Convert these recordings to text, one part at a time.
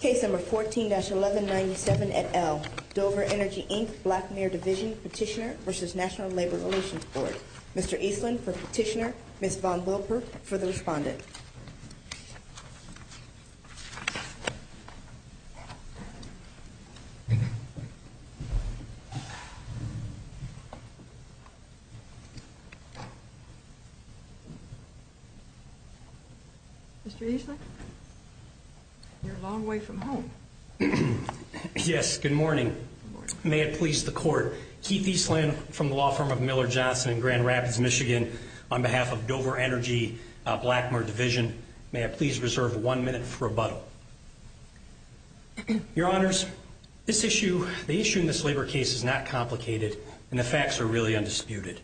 Case No. 14-1197 et al., Dover Energy, Inc., Black Mirror Division, Petitioner v. National Labor Relations Board Mr. Eastland for Petitioner, Ms. Von Wilpert for the Respondent Mr. Eastland, you're a long way from home. May I please reserve one minute for rebuttal? Your Honors, this issue, the issue in this labor case is not complicated, and the facts are really undisputed.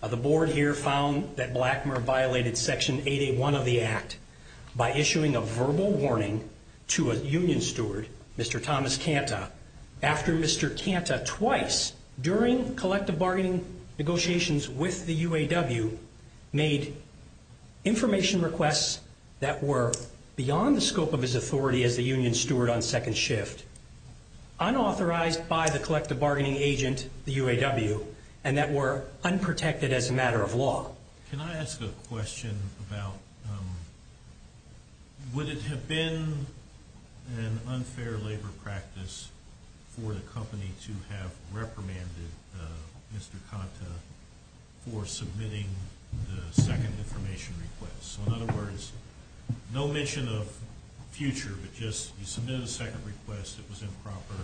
The Board here found that Black Mirror violated Section 8A.1 of the Act by issuing a verbal warning to a union steward, Mr. Thomas Kanta, after Mr. Kanta twice, during collective bargaining negotiations with the UAW, made information requests that were beyond the scope of his authority as the union steward on second shift, unauthorized by the collective bargaining agent, the UAW, and that were unprotected as a matter of law. Can I ask a question about, would it have been an unfair labor practice for the company to have reprimanded Mr. Kanta for submitting the second information request? So in other words, no mention of future, but just, you submitted a second request, it was improper,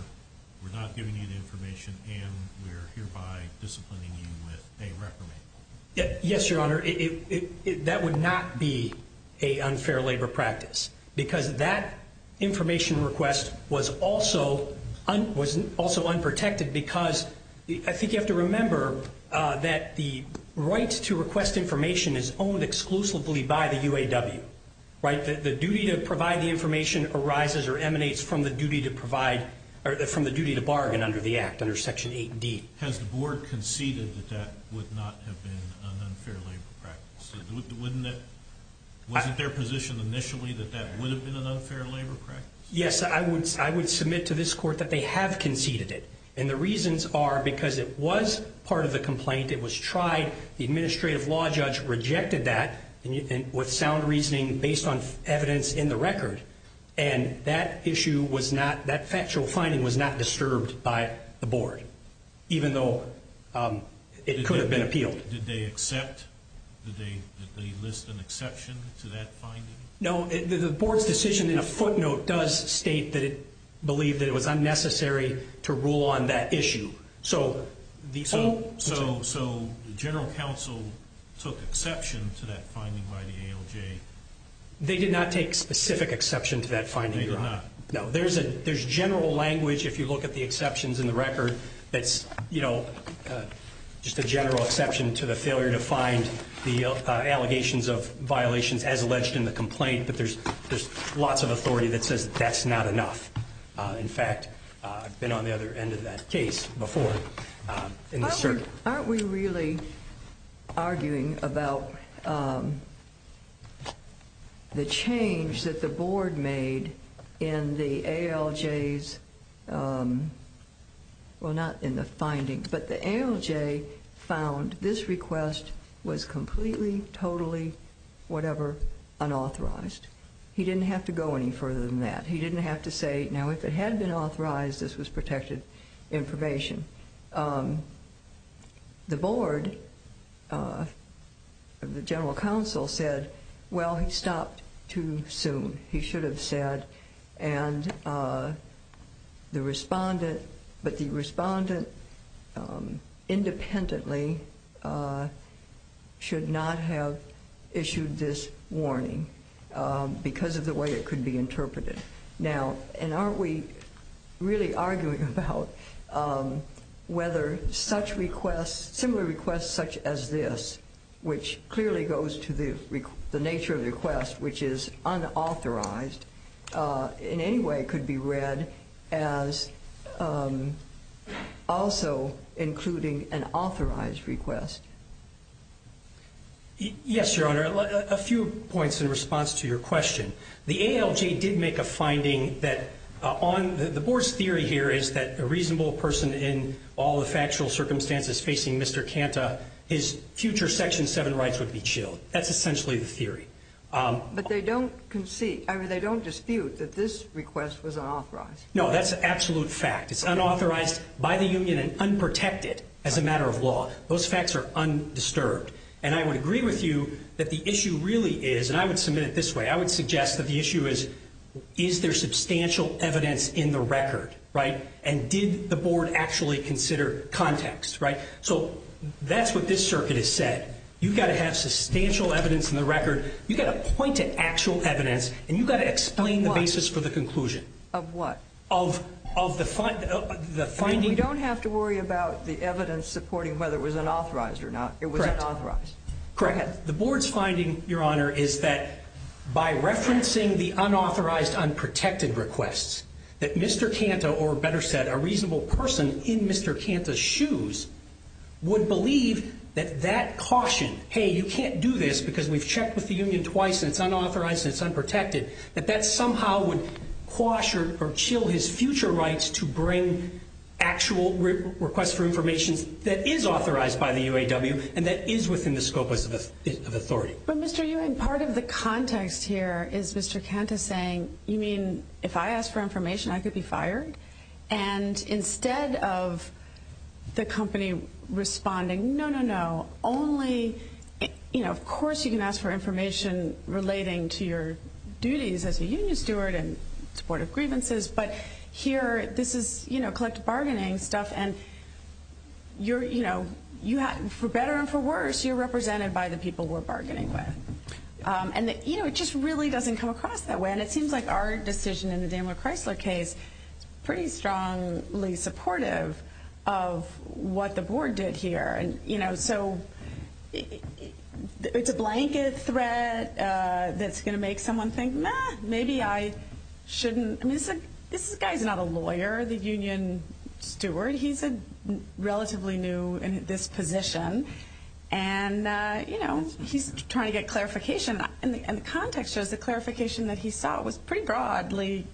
we're not giving you the information, and we're hereby disciplining you with a reprimand. Yes, Your Honor, that would not be an unfair labor practice, because that information request was also unprotected because, I think you have to remember, that the right to request information is owned exclusively by the UAW, right? The duty to provide the information arises or emanates from the duty to provide, or from the duty to bargain under the Act, under Section 8D. Has the board conceded that that would not have been an unfair labor practice? Wasn't their position initially that that would have been an unfair labor practice? Yes, I would submit to this court that they have conceded it, and the reasons are because it was part of the complaint, it was tried, the administrative law judge rejected that with sound reasoning based on evidence in the record, and that issue was not, that factual finding was not disturbed by the board, even though it could have been appealed. Did they accept, did they list an exception to that finding? No, the board's decision in a footnote does state that it believed that it was unnecessary to rule on that issue. So the general counsel took exception to that finding by the ALJ? They did not take specific exception to that finding, Your Honor. They did not? No, there's general language if you look at the exceptions in the record that's, you know, just a general exception to the failure to find the allegations of violations as alleged in the complaint, but there's lots of authority that says that's not enough. In fact, I've been on the other end of that case before. Aren't we really arguing about the change that the board made in the ALJ's, well, not in the finding, but the ALJ found this request was completely, totally, whatever, unauthorized. He didn't have to go any further than that. He didn't have to say, now, if it had been authorized, this was protected information. The board of the general counsel said, well, he stopped too soon, he should have said, and the respondent, but the respondent independently should not have issued this warning because of the way it could be interpreted. Now, and aren't we really arguing about whether such requests, similar requests such as this, which clearly goes to the nature of the request, which is unauthorized, in any way could be read as also including an authorized request? Yes, Your Honor. A few points in response to your question. The ALJ did make a finding that on the board's theory here is that a reasonable person in all the factual circumstances facing Mr. Kanta, his future Section 7 rights would be chilled. That's essentially the theory. But they don't dispute that this request was unauthorized. No, that's an absolute fact. It's unauthorized by the union and unprotected as a matter of law. Those facts are undisturbed. And I would agree with you that the issue really is, and I would submit it this way, I would suggest that the issue is, is there substantial evidence in the record, right, and did the board actually consider context, right? So that's what this circuit has said. You've got to have substantial evidence in the record. You've got to point to actual evidence, and you've got to explain the basis for the conclusion. Of what? Of the finding. We don't have to worry about the evidence supporting whether it was unauthorized or not. Correct. It was unauthorized. Correct. The board's finding, Your Honor, is that by referencing the unauthorized, unprotected requests, that Mr. Canta, or better said, a reasonable person in Mr. Canta's shoes, would believe that that caution, hey, you can't do this because we've checked with the union twice and it's unauthorized and it's unprotected, that that somehow would quash or chill his future rights to bring actual requests for information that is authorized by the UAW and that is within the scope of authority. But Mr. Ewing, part of the context here is Mr. Canta saying, you mean if I ask for information I could be fired? And instead of the company responding, no, no, no, only, you know, of course you can ask for information relating to your duties as a union steward and supportive grievances, but here this is, you know, collective bargaining stuff, and you're, you know, for better and for worse you're represented by the people we're bargaining with. And, you know, it just really doesn't come across that way, and it seems like our decision in the Daniel Chrysler case is pretty strongly supportive of what the board did here. And, you know, so it's a blanket threat that's going to make someone think, meh, maybe I shouldn't, I mean this guy's not a lawyer, the union steward. He's a relatively new in this position, and, you know, he's trying to get clarification, and the context shows the clarification that he saw was pretty broadly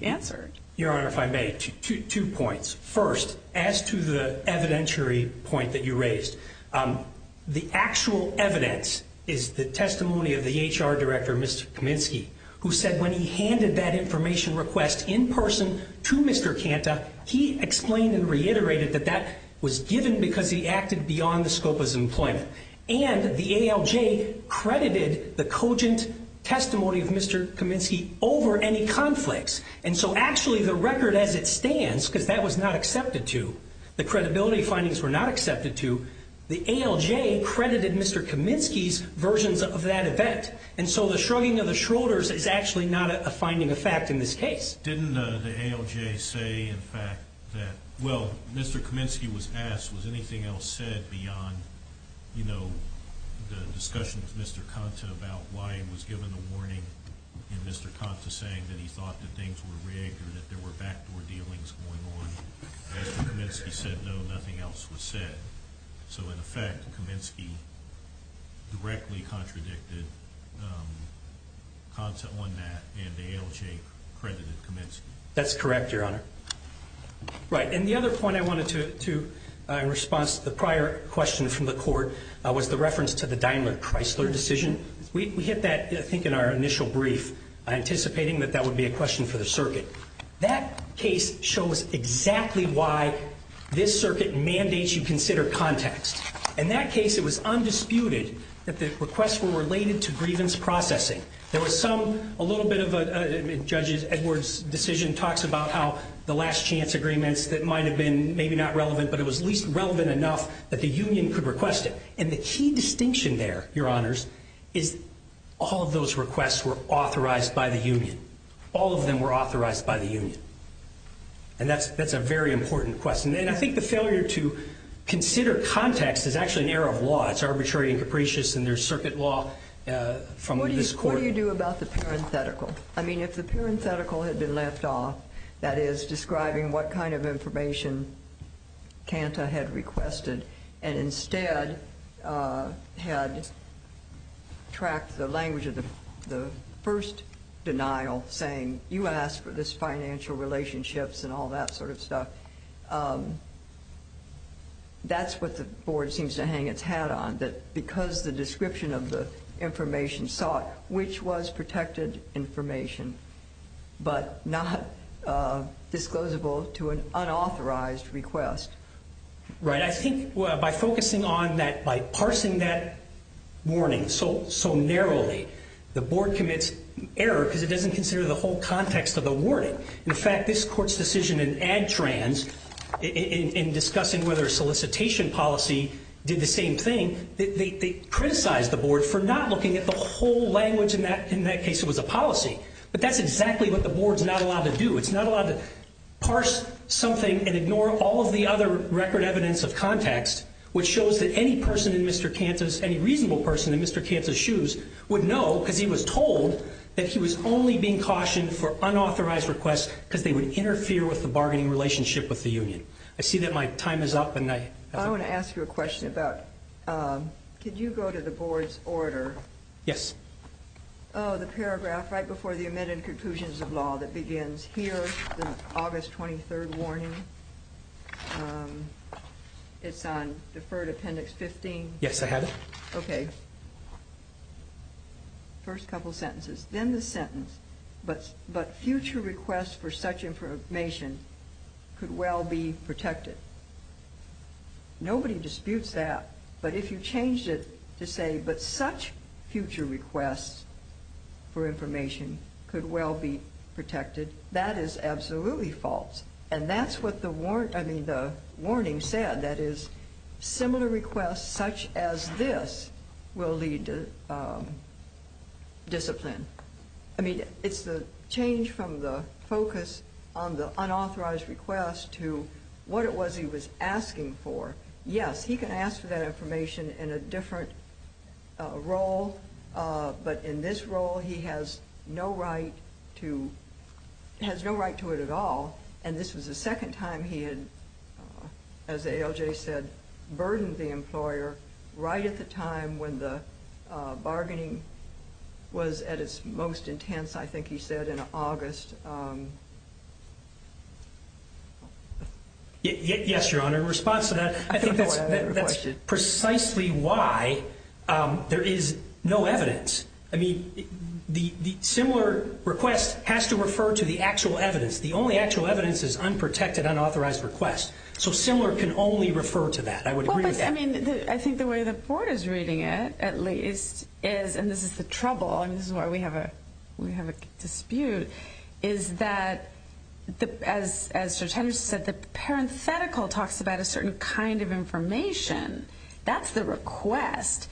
answered. Your Honor, if I may, two points. First, as to the evidentiary point that you raised, the actual evidence is the testimony of the HR director, Mr. Kaminsky, who said when he handed that information request in person to Mr. Kanta, he explained and reiterated that that was given because he acted beyond the scope of his employment. And the ALJ credited the cogent testimony of Mr. Kaminsky over any conflicts, and so actually the record as it stands, because that was not accepted to, the credibility findings were not accepted to, the ALJ credited Mr. Kaminsky's versions of that event. And so the shrugging of the shoulders is actually not a finding of fact in this case. Didn't the ALJ say, in fact, that, well, Mr. Kaminsky was asked, was anything else said beyond, you know, the discussion with Mr. Kanta about why he was given the warning and Mr. Kanta saying that he thought that things were rigged or that there were backdoor dealings going on. Mr. Kaminsky said, no, nothing else was said. So in effect, Kaminsky directly contradicted Kanta on that, and the ALJ credited Kaminsky. That's correct, Your Honor. Right, and the other point I wanted to, in response to the prior question from the court, was the reference to the Daimler-Chrysler decision. We hit that, I think, in our initial brief, anticipating that that would be a question for the circuit. That case shows exactly why this circuit mandates you consider context. In that case, it was undisputed that the requests were related to grievance processing. There was some, a little bit of a, Judge Edwards' decision talks about how the last chance agreements that might have been maybe not relevant, but it was at least relevant enough that the union could request it. And the key distinction there, Your Honors, is all of those requests were authorized by the union. All of them were authorized by the union. And that's a very important question. And I think the failure to consider context is actually an error of law. It's arbitrary and capricious, and there's circuit law from this court. What do you do about the parenthetical? I mean, if the parenthetical had been left off, that is, describing what kind of information Kanta had requested, and instead had tracked the language of the first denial, saying, you asked for this financial relationships and all that sort of stuff, that's what the board seems to hang its hat on, that because the description of the information sought, which was protected information, but not disclosable to an unauthorized request. Right. I think by focusing on that, by parsing that warning so narrowly, the board commits error because it doesn't consider the whole context of the warning. In fact, this court's decision in ADTRANS in discussing whether a solicitation policy did the same thing, they criticized the board for not looking at the whole language. In that case, it was a policy. But that's exactly what the board's not allowed to do. It's not allowed to parse something and ignore all of the other record evidence of context, which shows that any person in Mr. Kanta's, any reasonable person in Mr. Kanta's shoes, would know because he was told that he was only being cautioned for unauthorized requests because they would interfere with the bargaining relationship with the union. I see that my time is up. I want to ask you a question about, could you go to the board's order? Yes. Oh, the paragraph right before the amended conclusions of law that begins here, the August 23rd warning, it's on Deferred Appendix 15. Yes, I have it. Okay. First couple sentences. Then the sentence, but future requests for such information could well be protected. Nobody disputes that. But if you changed it to say, but such future requests for information could well be protected, that is absolutely false. And that's what the warning said, that is, similar requests such as this will lead to discipline. I mean, it's the change from the focus on the unauthorized request to what it was he was asking for. Yes, he can ask for that information in a different role, but in this role he has no right to it at all. And this was the second time he had, as ALJ said, burdened the employer right at the time when the bargaining was at its most intense, I think he said, in August. Yes, Your Honor, in response to that, I think that's precisely why there is no evidence. I mean, the similar request has to refer to the actual evidence. The only actual evidence is unprotected, unauthorized requests. So similar can only refer to that. I would agree with that. I mean, I think the way the Court is reading it, at least, is, and this is the trouble, and this is why we have a dispute, is that, as Judge Henderson said, the parenthetical talks about a certain kind of information. That's the request.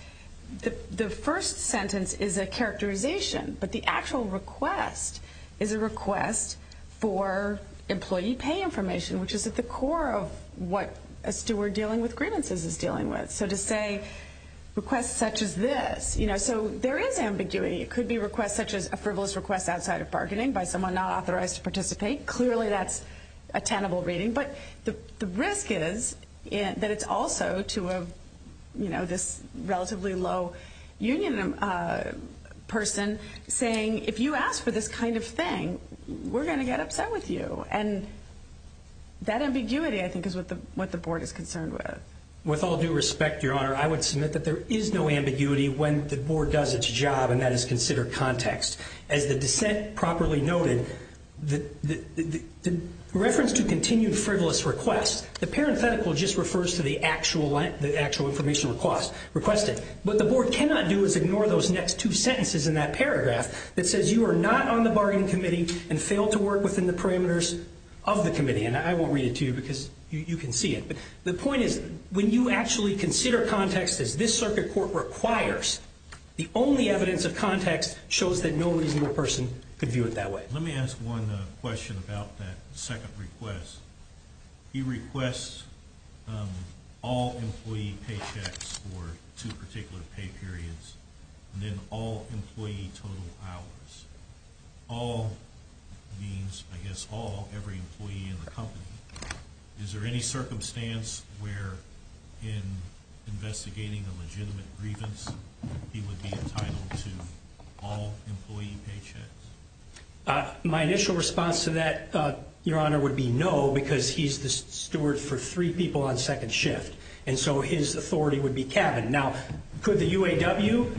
The first sentence is a characterization, but the actual request is a request for employee pay information, which is at the core of what a steward dealing with grievances is dealing with. So to say requests such as this. So there is ambiguity. It could be requests such as a frivolous request outside of bargaining by someone not authorized to participate. Clearly that's a tenable reading. But the risk is that it's also to this relatively low union person saying, if you ask for this kind of thing, we're going to get upset with you. And that ambiguity, I think, is what the Board is concerned with. With all due respect, Your Honor, I would submit that there is no ambiguity when the Board does its job, and that is considered context. As the dissent properly noted, the reference to continued frivolous requests, the parenthetical just refers to the actual information requested. What the Board cannot do is ignore those next two sentences in that paragraph that says, you are not on the bargaining committee and failed to work within the parameters of the committee. And I won't read it to you because you can see it. But the point is, when you actually consider context as this circuit court requires, the only evidence of context shows that no reasonable person could view it that way. Let me ask one question about that second request. He requests all employee paychecks for two particular pay periods and then all employee total hours. All means, I guess, all, every employee in the company. Is there any circumstance where, in investigating a legitimate grievance, he would be entitled to all employee paychecks? My initial response to that, Your Honor, would be no, because he's the steward for three people on second shift. And so his authority would be cabin. Now, could the UAW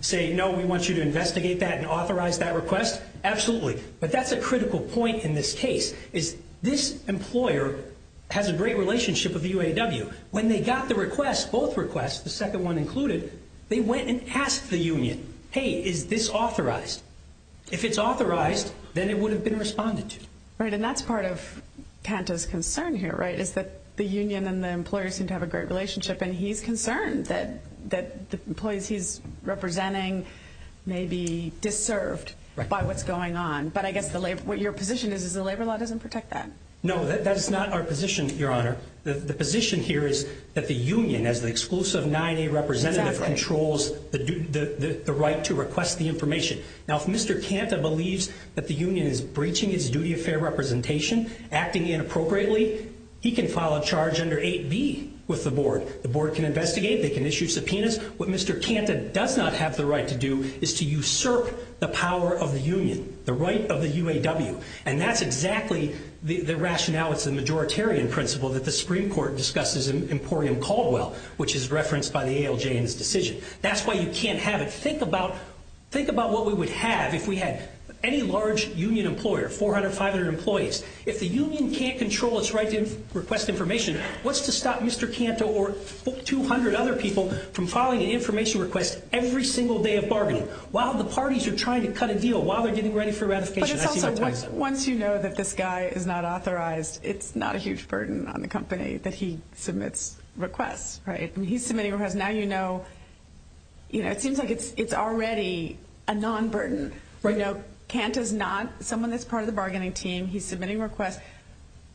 say, no, we want you to investigate that and authorize that request? Absolutely. But that's a critical point in this case, is this employer has a great relationship with the UAW. When they got the request, both requests, the second one included, they went and asked the union, hey, is this authorized? If it's authorized, then it would have been responded to. Right. And that's part of Kanta's concern here, right, is that the union and the employer seem to have a great relationship. And he's concerned that the employees he's representing may be disserved by what's going on. But I guess what your position is, is the labor law doesn't protect that. No, that's not our position, Your Honor. The position here is that the union, as the exclusive 9A representative, controls the right to request the information. Now, if Mr. Kanta believes that the union is breaching its duty of fair representation, acting inappropriately, he can file a charge under 8B with the board. The board can investigate. They can issue subpoenas. What Mr. Kanta does not have the right to do is to usurp the power of the union, the right of the UAW. And that's exactly the rationale. It's the majoritarian principle that the Supreme Court discusses in Emporium Caldwell, which is referenced by the ALJ in this decision. That's why you can't have it. Think about what we would have if we had any large union employer, 400, 500 employees. If the union can't control its right to request information, what's to stop Mr. Kanta or 200 other people from filing an information request every single day of bargaining? While the parties are trying to cut a deal, while they're getting ready for ratification? Once you know that this guy is not authorized, it's not a huge burden on the company that he submits requests. He's submitting requests. Now you know. It seems like it's already a non-burden. Kanta is not someone that's part of the bargaining team. He's submitting requests.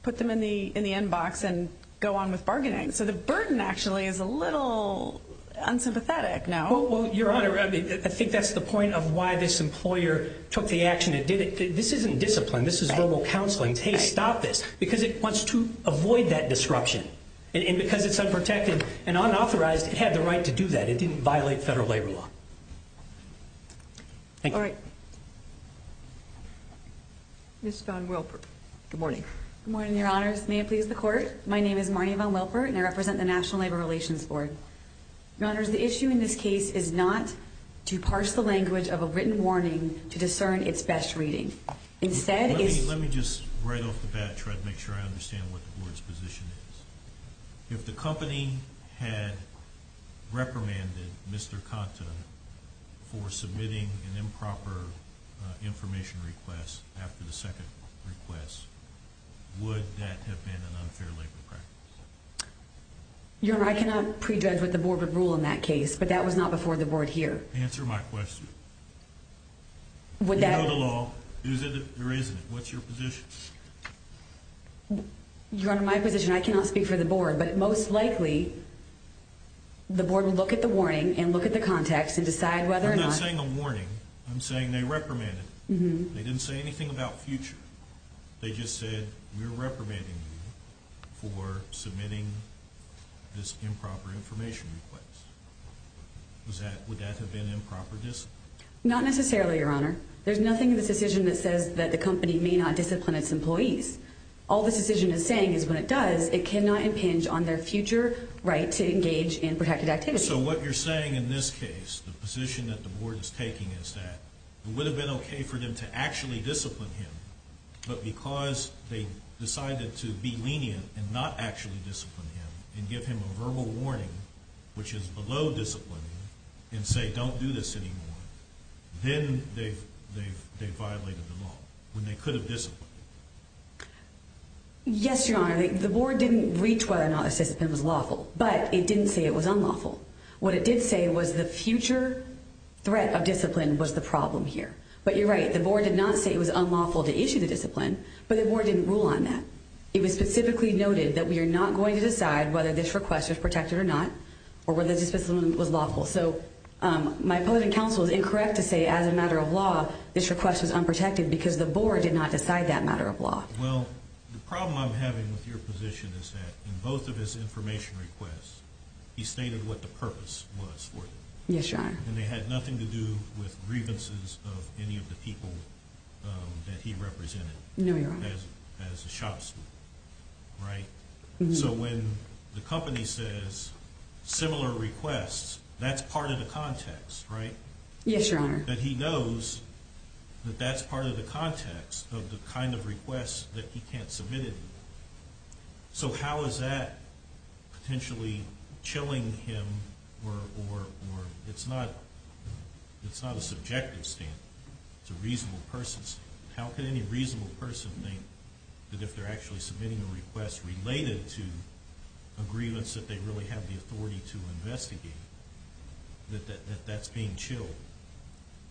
Put them in the inbox and go on with bargaining. So the burden actually is a little unsympathetic. Well, Your Honor, I think that's the point of why this employer took the action. This isn't discipline. This is verbal counseling. Hey, stop this. Because it wants to avoid that disruption. And because it's unprotected and unauthorized, it had the right to do that. It didn't violate federal labor law. Thank you. All right. Ms. Vaughn-Wilpert. Good morning. Good morning, Your Honors. May it please the Court. My name is Marnie Vaughn-Wilpert, and I represent the National Labor Relations Board. Your Honors, the issue in this case is not to parse the language of a written warning to discern its best reading. Let me just, right off the bat, try to make sure I understand what the Board's position is. If the company had reprimanded Mr. Conta for submitting an improper information request after the second request, would that have been an unfair labor practice? Your Honor, I cannot prejudge what the Board would rule in that case, but that was not before the Board here. Answer my question. Do you know the law? Is it or isn't it? What's your position? Your Honor, my position, I cannot speak for the Board, but most likely the Board will look at the warning and look at the context and decide whether or not— I'm not saying a warning. I'm saying they reprimanded him. They didn't say anything about future. They just said, we're reprimanding you for submitting this improper information request. Would that have been improper discipline? Not necessarily, Your Honor. There's nothing in this decision that says that the company may not discipline its employees. All this decision is saying is when it does, it cannot impinge on their future right to engage in protected activity. So what you're saying in this case, the position that the Board is taking, is that it would have been okay for them to actually discipline him, but because they decided to be lenient and not actually discipline him and give him a verbal warning, which is below discipline, and say, don't do this anymore, then they violated the law, when they could have disciplined him. Yes, Your Honor. The Board didn't reach whether or not this discipline was lawful, but it didn't say it was unlawful. What it did say was the future threat of discipline was the problem here. But you're right, the Board did not say it was unlawful to issue the discipline, but the Board didn't rule on that. It was specifically noted that we are not going to decide whether this request was protected or not, or whether this discipline was lawful. So my opponent in counsel is incorrect to say, as a matter of law, this request was unprotected because the Board did not decide that matter of law. Well, the problem I'm having with your position is that in both of his information requests, he stated what the purpose was for them. Yes, Your Honor. And they had nothing to do with grievances of any of the people that he represented. No, Your Honor. As a shopsman, right? So when the company says similar requests, that's part of the context, right? Yes, Your Honor. That he knows that that's part of the context of the kind of requests that he can't submit anymore. So how is that potentially chilling him, or it's not a subjective stand? It's a reasonable person's stand. How can any reasonable person think that if they're actually submitting a request related to a grievance that they really have the authority to investigate, that that's being chilled?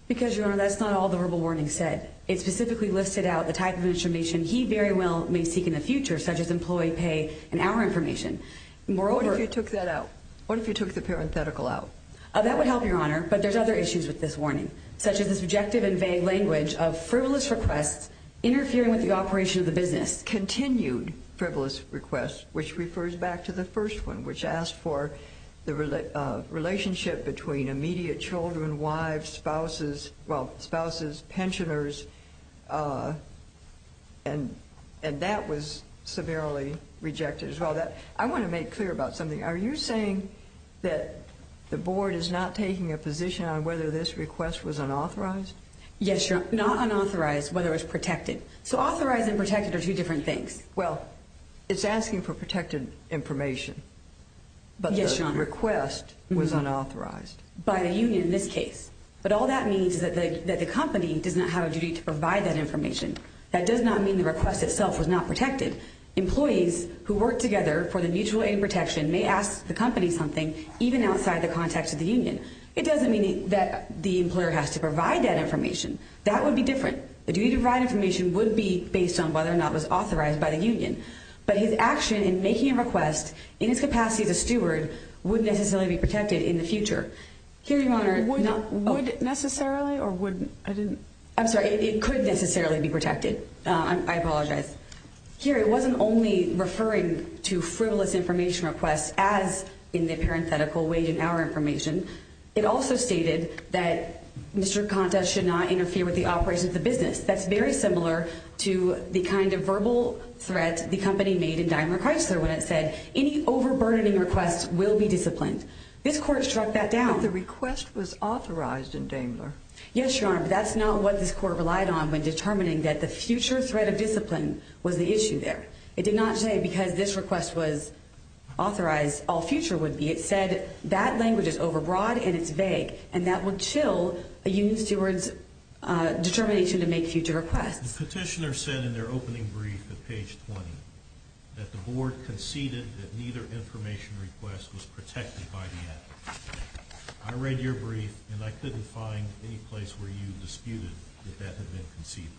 Because, Your Honor, that's not all the verbal warning said. It specifically listed out the type of information he very well may seek in the future, such as employee pay and hour information. What if you took that out? What if you took the parenthetical out? That would help, Your Honor. But there's other issues with this warning, such as the subjective and vague language of frivolous requests interfering with the operation of the business. There's a continued frivolous request, which refers back to the first one, which asked for the relationship between immediate children, wives, spouses, well, spouses, pensioners. And that was severely rejected as well. I want to make clear about something. Are you saying that the board is not taking a position on whether this request was unauthorized? Yes, Your Honor, not unauthorized, whether it was protected. So authorized and protected are two different things. Well, it's asking for protected information. Yes, Your Honor. But the request was unauthorized. By the union in this case. But all that means is that the company does not have a duty to provide that information. That does not mean the request itself was not protected. Employees who work together for the mutual aid protection may ask the company something, even outside the context of the union. It doesn't mean that the employer has to provide that information. That would be different. The duty to provide information would be based on whether or not it was authorized by the union. But his action in making a request, in its capacity as a steward, would necessarily be protected in the future. Would necessarily or wouldn't? I'm sorry, it could necessarily be protected. I apologize. Here, it wasn't only referring to frivolous information requests as in the parenthetical wage and hour information. It also stated that Mr. Conta should not interfere with the operations of the business. That's very similar to the kind of verbal threat the company made in Daimler Chrysler when it said, any overburdening requests will be disciplined. This court struck that down. But the request was authorized in Daimler. Yes, Your Honor, but that's not what this court relied on when determining that the future threat of discipline was the issue there. It did not say because this request was authorized, all future would be. It said that language is overbroad and it's vague, and that would chill a union steward's determination to make future requests. The petitioner said in their opening brief at page 20 that the board conceded that neither information request was protected by the act. I read your brief, and I couldn't find any place where you disputed that that had been conceded.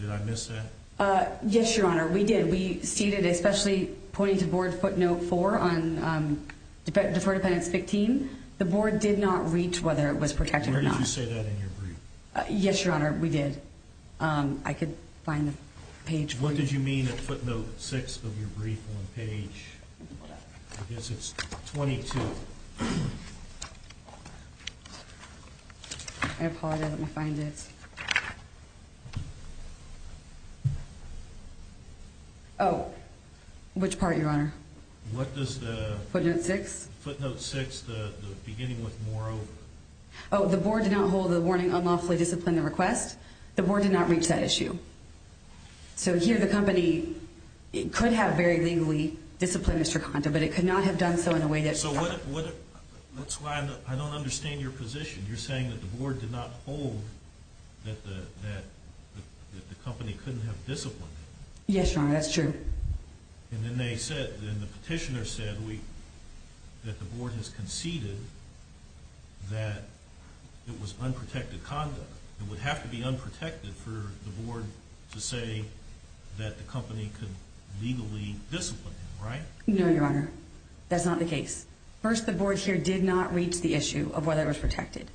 Did I miss that? Yes, Your Honor, we did. We ceded, especially pointing to board footnote four on deferred appendix 15. The board did not reach whether it was protected or not. Where did you say that in your brief? Yes, Your Honor, we did. I could find the page for you. What did you mean at footnote six of your brief on page 22? I apologize, let me find it. Oh, which part, Your Honor? What does the... Footnote six. Footnote six, the beginning with more over. Oh, the board did not hold the warning unlawfully disciplined the request. The board did not reach that issue. So here the company could have very legally disciplined Mr. Condo, but it could not have done so in a way that... So that's why I don't understand your position. You're saying that the board did not hold that the company couldn't have disciplined him. Yes, Your Honor, that's true. And then the petitioner said that the board has conceded that it was unprotected conduct. It would have to be unprotected for the board to say that the company could legally discipline him, right? No, Your Honor, that's not the case. First, the board here did not reach the issue of whether it was protected.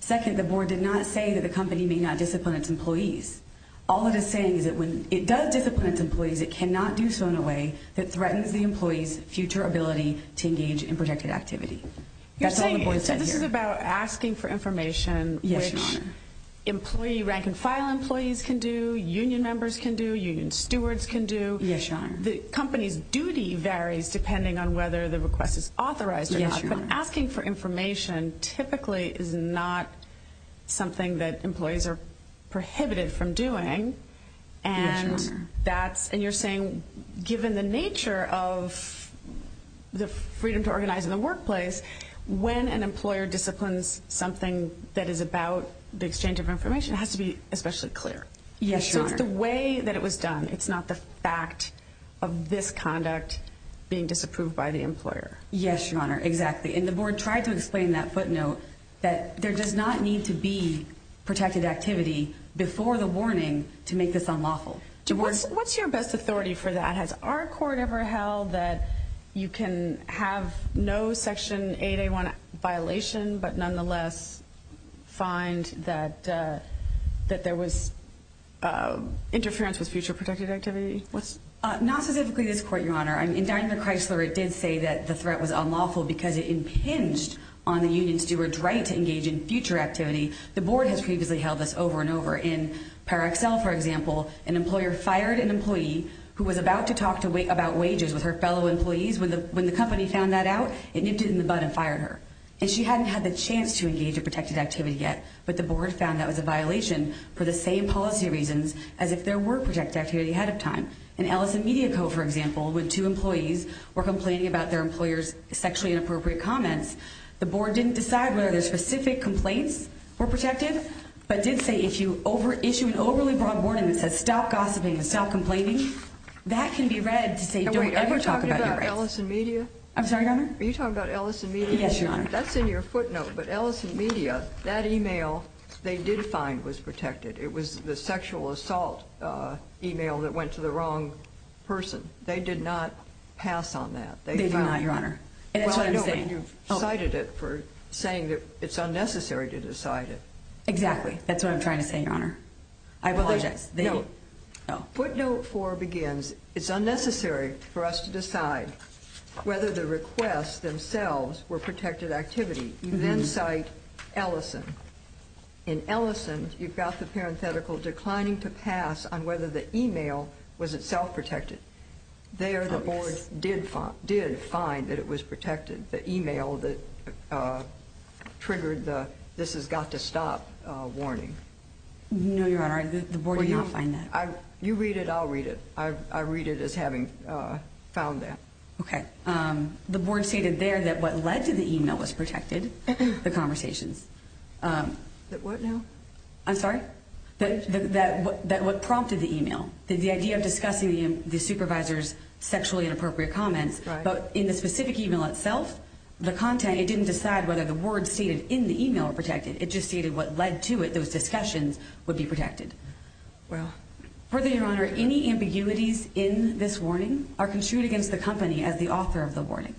Second, the board did not say that the company may not discipline its employees. All it is saying is that when it does discipline its employees, it cannot do so in a way that threatens the employees' future ability to engage in protected activity. That's all the board said here. You're saying that this is about asking for information which employee rank and file employees can do, union members can do, union stewards can do. Yes, Your Honor. The company's duty varies depending on whether the request is authorized or not. Yes, Your Honor. But asking for information typically is not something that employees are prohibited from doing. Yes, Your Honor. And you're saying given the nature of the freedom to organize in the workplace, when an employer disciplines something that is about the exchange of information, it has to be especially clear. Yes, Your Honor. So it's the way that it was done. It's not the fact of this conduct being disapproved by the employer. Yes, Your Honor, exactly. And the board tried to explain that footnote that there does not need to be protected activity before the warning to make this unlawful. What's your best authority for that? Has our court ever held that you can have no Section 8A1 violation but nonetheless find that there was interference with future protected activity? Not specifically this court, Your Honor. In Dining with Chrysler, it did say that the threat was unlawful because it impinged on the union steward's right to engage in future activity. The board has previously held this over and over. In Paracel, for example, an employer fired an employee who was about to talk about wages with her fellow employees. When the company found that out, it nipped it in the bud and fired her. And she hadn't had the chance to engage in protected activity yet, but the board found that was a violation for the same policy reasons as if there were protected activity ahead of time. In Ellison Media Co., for example, when two employees were complaining about their employer's sexually inappropriate comments, the board didn't decide whether their specific complaints were protected, but did say if you issue an overly broad warning that says stop gossiping and stop complaining, that can be read to say don't ever talk about your rights. Are you talking about Ellison Media? I'm sorry, Your Honor? Are you talking about Ellison Media? Yes, Your Honor. That's in your footnote, but Ellison Media, that email they did find was protected. It was the sexual assault email that went to the wrong person. They did not pass on that. They did not, Your Honor. That's what I'm saying. And you've cited it for saying that it's unnecessary to decide it. Exactly. That's what I'm trying to say, Your Honor. I apologize. Footnote 4 begins, it's unnecessary for us to decide whether the requests themselves were protected activity. You then cite Ellison. In Ellison, you've got the parenthetical declining to pass on whether the email was itself protected. There the board did find that it was protected, the email that triggered the this has got to stop warning. No, Your Honor, the board did not find that. You read it, I'll read it. I read it as having found that. Okay. The board stated there that what led to the email was protected, the conversations. The what now? I'm sorry? That what prompted the email. The idea of discussing the supervisor's sexually inappropriate comments. But in the specific email itself, the content, it didn't decide whether the words stated in the email were protected. It just stated what led to it, those discussions would be protected. Well. Further, Your Honor, any ambiguities in this warning are construed against the company as the author of the warning.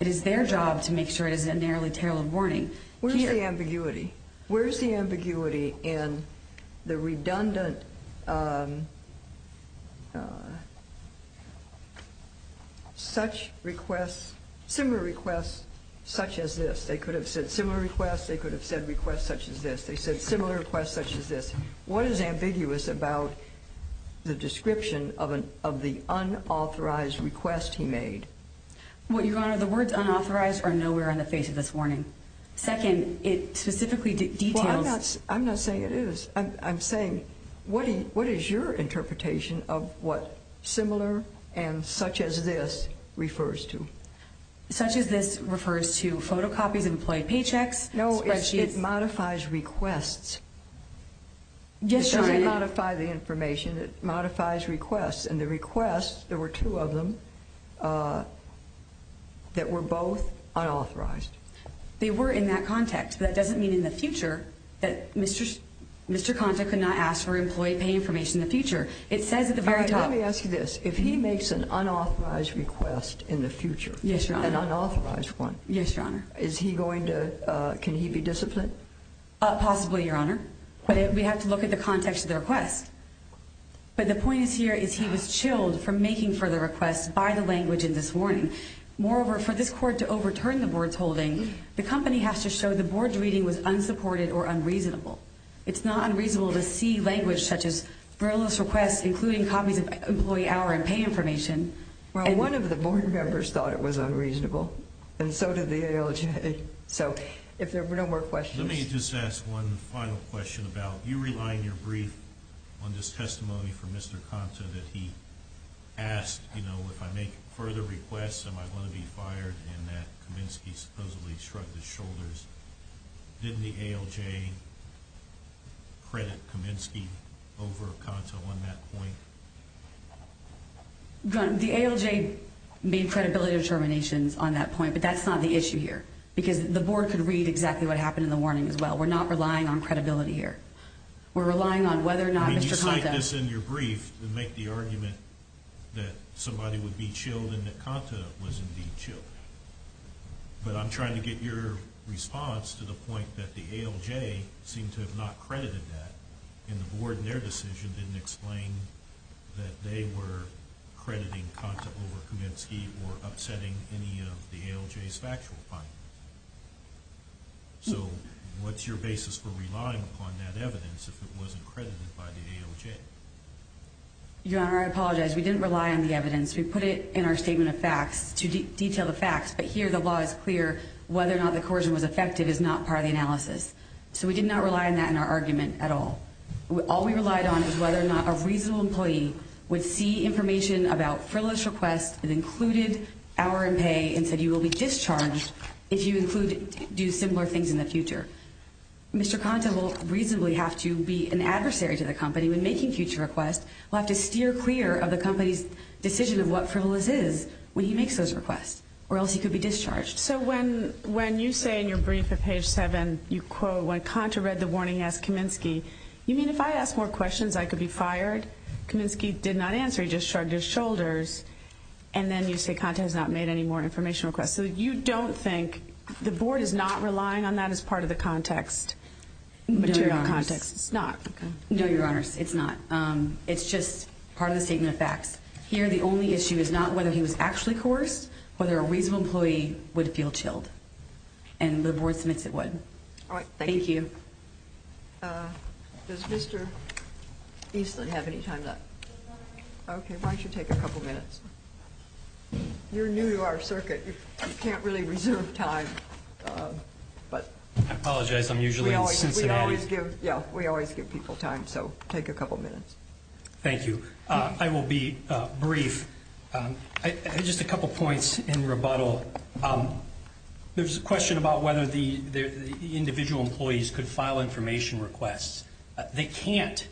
It is their job to make sure it is a narrowly tailored warning. Where's the ambiguity? Where's the ambiguity in the redundant such requests, similar requests such as this? They could have said similar requests. They could have said requests such as this. They said similar requests such as this. What is ambiguous about the description of the unauthorized request he made? Well, Your Honor, the words unauthorized are nowhere on the face of this warning. Second, it specifically details. Well, I'm not saying it is. I'm saying what is your interpretation of what similar and such as this refers to? Such as this refers to photocopies, employed paychecks, spreadsheets. No, it modifies requests. Yes, Your Honor. It doesn't modify the information. It modifies requests. There were two of them that were both unauthorized. They were in that context. That doesn't mean in the future that Mr. Conta could not ask for employee pay information in the future. Let me ask you this. If he makes an unauthorized request in the future, an unauthorized one, can he be disciplined? Possibly, Your Honor. We have to look at the context of the request. But the point is here is he was chilled from making further requests by the language in this warning. Moreover, for this court to overturn the board's holding, the company has to show the board's reading was unsupported or unreasonable. It's not unreasonable to see language such as frivolous requests, including copies of employee hour and pay information. Well, one of the board members thought it was unreasonable, and so did the ALJ. So if there were no more questions. Let me just ask one final question about you relying your brief on this testimony from Mr. Conta that he asked, you know, if I make further requests, am I going to be fired in that Kaminsky supposedly shrugged his shoulders? Didn't the ALJ credit Kaminsky over Conta on that point? The ALJ made credibility determinations on that point, but that's not the issue here. Because the board could read exactly what happened in the warning as well. We're not relying on credibility here. We're relying on whether or not Mr. Conta. I mean, you cite this in your brief to make the argument that somebody would be chilled and that Conta was indeed chilled. But I'm trying to get your response to the point that the ALJ seemed to have not credited that, and the board in their decision didn't explain that they were crediting Conta over Kaminsky or upsetting any of the ALJ's factual findings. So what's your basis for relying upon that evidence if it wasn't credited by the ALJ? Your Honor, I apologize. We didn't rely on the evidence. We put it in our statement of facts to detail the facts. But here the law is clear whether or not the coercion was effective is not part of the analysis. So we did not rely on that in our argument at all. All we relied on is whether or not a reasonable employee would see information about frivolous requests that included hour and pay and said you will be discharged if you do similar things in the future. Mr. Conta will reasonably have to be an adversary to the company when making future requests. We'll have to steer clear of the company's decision of what frivolous is when he makes those requests or else he could be discharged. So when you say in your brief at page 7, you quote, when Conta read the warning he asked Kaminsky, you mean if I ask more questions I could be fired? Kaminsky did not answer. He just shrugged his shoulders. And then you say Conta has not made any more information requests. So you don't think the board is not relying on that as part of the context, material context? It's not. No, Your Honors. It's not. It's just part of the statement of facts. Here the only issue is not whether he was actually coerced, whether a reasonable employee would feel chilled. And the board submits it would. Thank you. Does Mr. Eastland have any time left? Okay, why don't you take a couple minutes? You're new to our circuit. You can't really reserve time. I apologize. I'm usually in Cincinnati. We always give people time, so take a couple minutes. Thank you. I will be brief. Just a couple points in rebuttal. There's a question about whether the individual employees could file information requests. They can't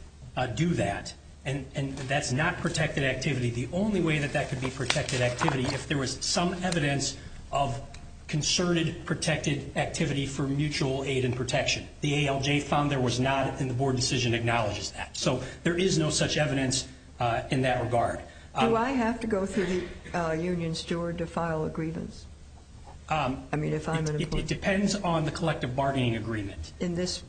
do that. And that's not protected activity. The only way that that could be protected activity if there was some evidence of concerted protected activity for mutual aid and protection. The ALJ found there was not, and the board decision acknowledges that. So there is no such evidence in that regard. Do I have to go through the union steward to file a grievance? I mean, if I'm an employee. It depends on the collective bargaining agreement. In this?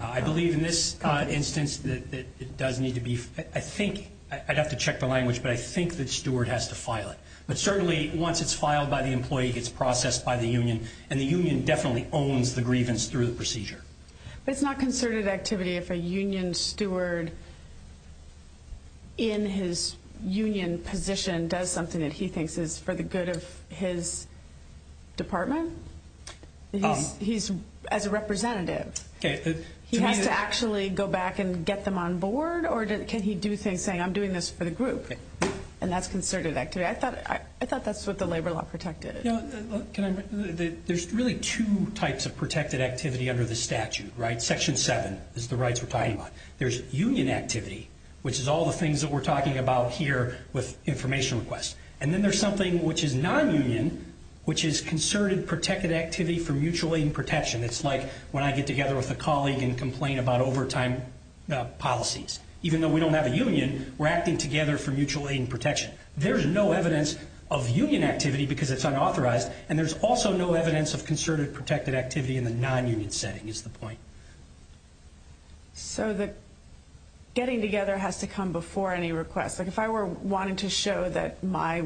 I believe in this instance that it does need to be, I think, I'd have to check the language, but I think the steward has to file it. But certainly once it's filed by the employee, it's processed by the union, and the union definitely owns the grievance through the procedure. But it's not concerted activity if a union steward in his union position does something that he thinks is for the good of his department? He's as a representative. He has to actually go back and get them on board, or can he do things saying I'm doing this for the group? And that's concerted activity. I thought that's what the labor law protected. There's really two types of protected activity under the statute, right? Section 7 is the rights we're talking about. There's union activity, which is all the things that we're talking about here with information requests. And then there's something which is nonunion, which is concerted protected activity for mutual aid and protection. It's like when I get together with a colleague and complain about overtime policies. Even though we don't have a union, we're acting together for mutual aid and protection. There's no evidence of union activity because it's unauthorized, and there's also no evidence of concerted protected activity in the nonunion setting is the point. So the getting together has to come before any request. Like if I were wanting to show that my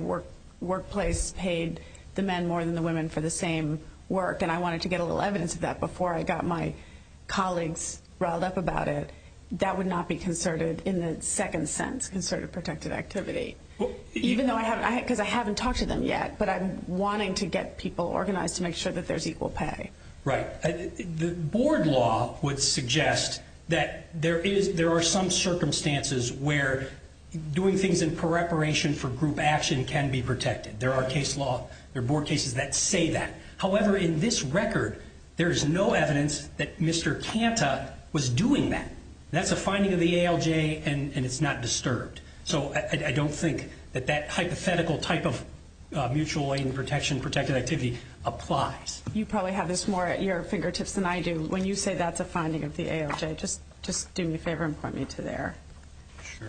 workplace paid the men more than the women for the same work, and I wanted to get a little evidence of that before I got my colleagues riled up about it, that would not be concerted in the second sense, concerted protected activity. Because I haven't talked to them yet, but I'm wanting to get people organized to make sure that there's equal pay. Right. The board law would suggest that there are some circumstances where doing things in preparation for group action can be protected. There are case law, there are board cases that say that. However, in this record, there is no evidence that Mr. Kanta was doing that. That's a finding of the ALJ, and it's not disturbed. So I don't think that that hypothetical type of mutual aid and protection protected activity applies. You probably have this more at your fingertips than I do. When you say that's a finding of the ALJ, just do me a favor and point me to there. Sure.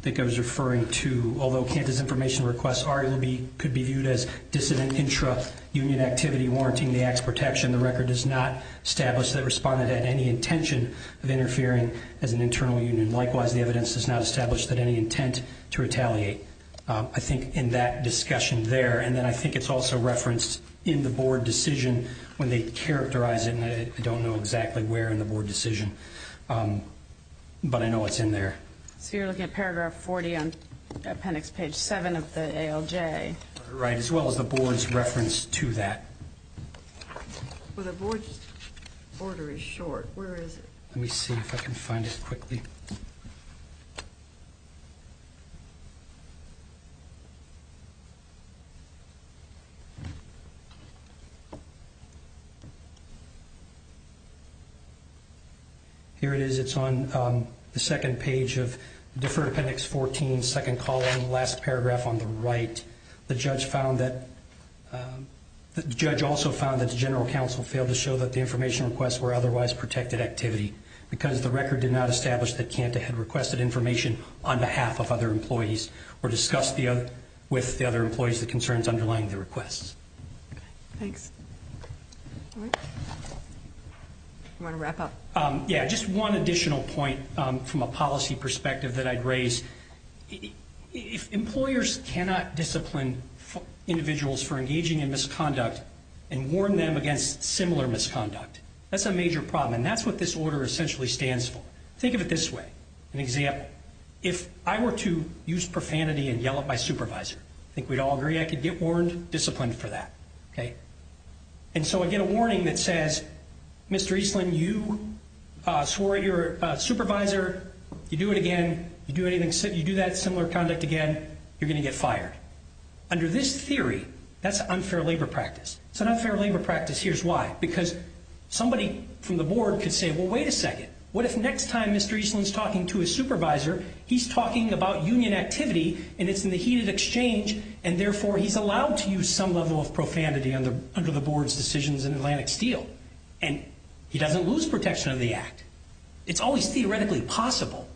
I think I was referring to, although Kanta's information request could be viewed as dissident intra-union activity, warranting the act's protection, the record does not establish that it responded at any intention of interfering as an internal union. Likewise, the evidence does not establish that any intent to retaliate. I think in that discussion there, and then I think it's also referenced in the board decision when they characterize it, and I don't know exactly where in the board decision, but I know it's in there. So you're looking at paragraph 40 on appendix page 7 of the ALJ. Right, as well as the board's reference to that. Well, the board's order is short. Where is it? Let me see if I can find it quickly. Here it is. Here it is. It's on the second page of deferred appendix 14, second column, last paragraph on the right. The judge also found that the general counsel failed to show that the information requests were otherwise protected activity because the record did not establish that Kanta had requested information on behalf of other employees or discussed with the other employees the concerns underlying the requests. Thanks. You want to wrap up? Yeah, just one additional point from a policy perspective that I'd raise. If employers cannot discipline individuals for engaging in misconduct and warn them against similar misconduct, that's a major problem, and that's what this order essentially stands for. Think of it this way. An example, if I were to use profanity and yell at my supervisor, I think we'd all agree I could get warned, disciplined for that. And so I get a warning that says, Mr. Eastland, you swore at your supervisor, you do it again, you do that similar conduct again, you're going to get fired. Under this theory, that's an unfair labor practice. It's an unfair labor practice. Here's why. Because somebody from the board could say, well, wait a second. What if next time Mr. Eastland's talking to his supervisor, he's talking about union activity, and it's in the heated exchange, and therefore he's allowed to use some level of profanity under the board's decisions in Atlantic Steel? And he doesn't lose protection of the act. It's always theoretically possible.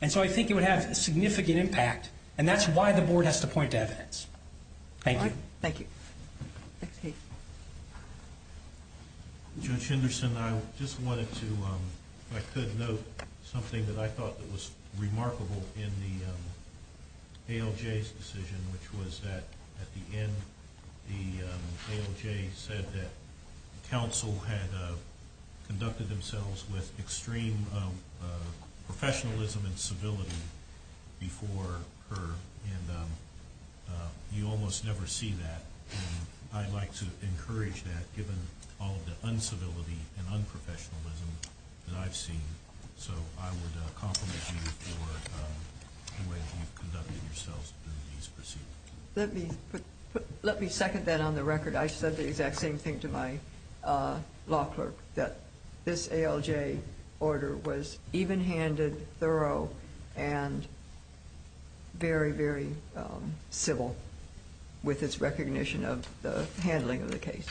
And so I think it would have a significant impact, and that's why the board has to point to evidence. Thank you. Thank you. Judge Henderson, I just wanted to, if I could, note something that I thought was remarkable in the ALJ's decision, which was that at the end the ALJ said that counsel had conducted themselves with extreme professionalism and civility before her, and you almost never see that. I'd like to encourage that, given all of the uncivility and unprofessionalism that I've seen. So I would compliment you for the way that you've conducted yourselves in these proceedings. Let me second that on the record. I said the exact same thing to my law clerk, that this ALJ order was even-handed, thorough, and very, very civil with its recognition of the handling of the case.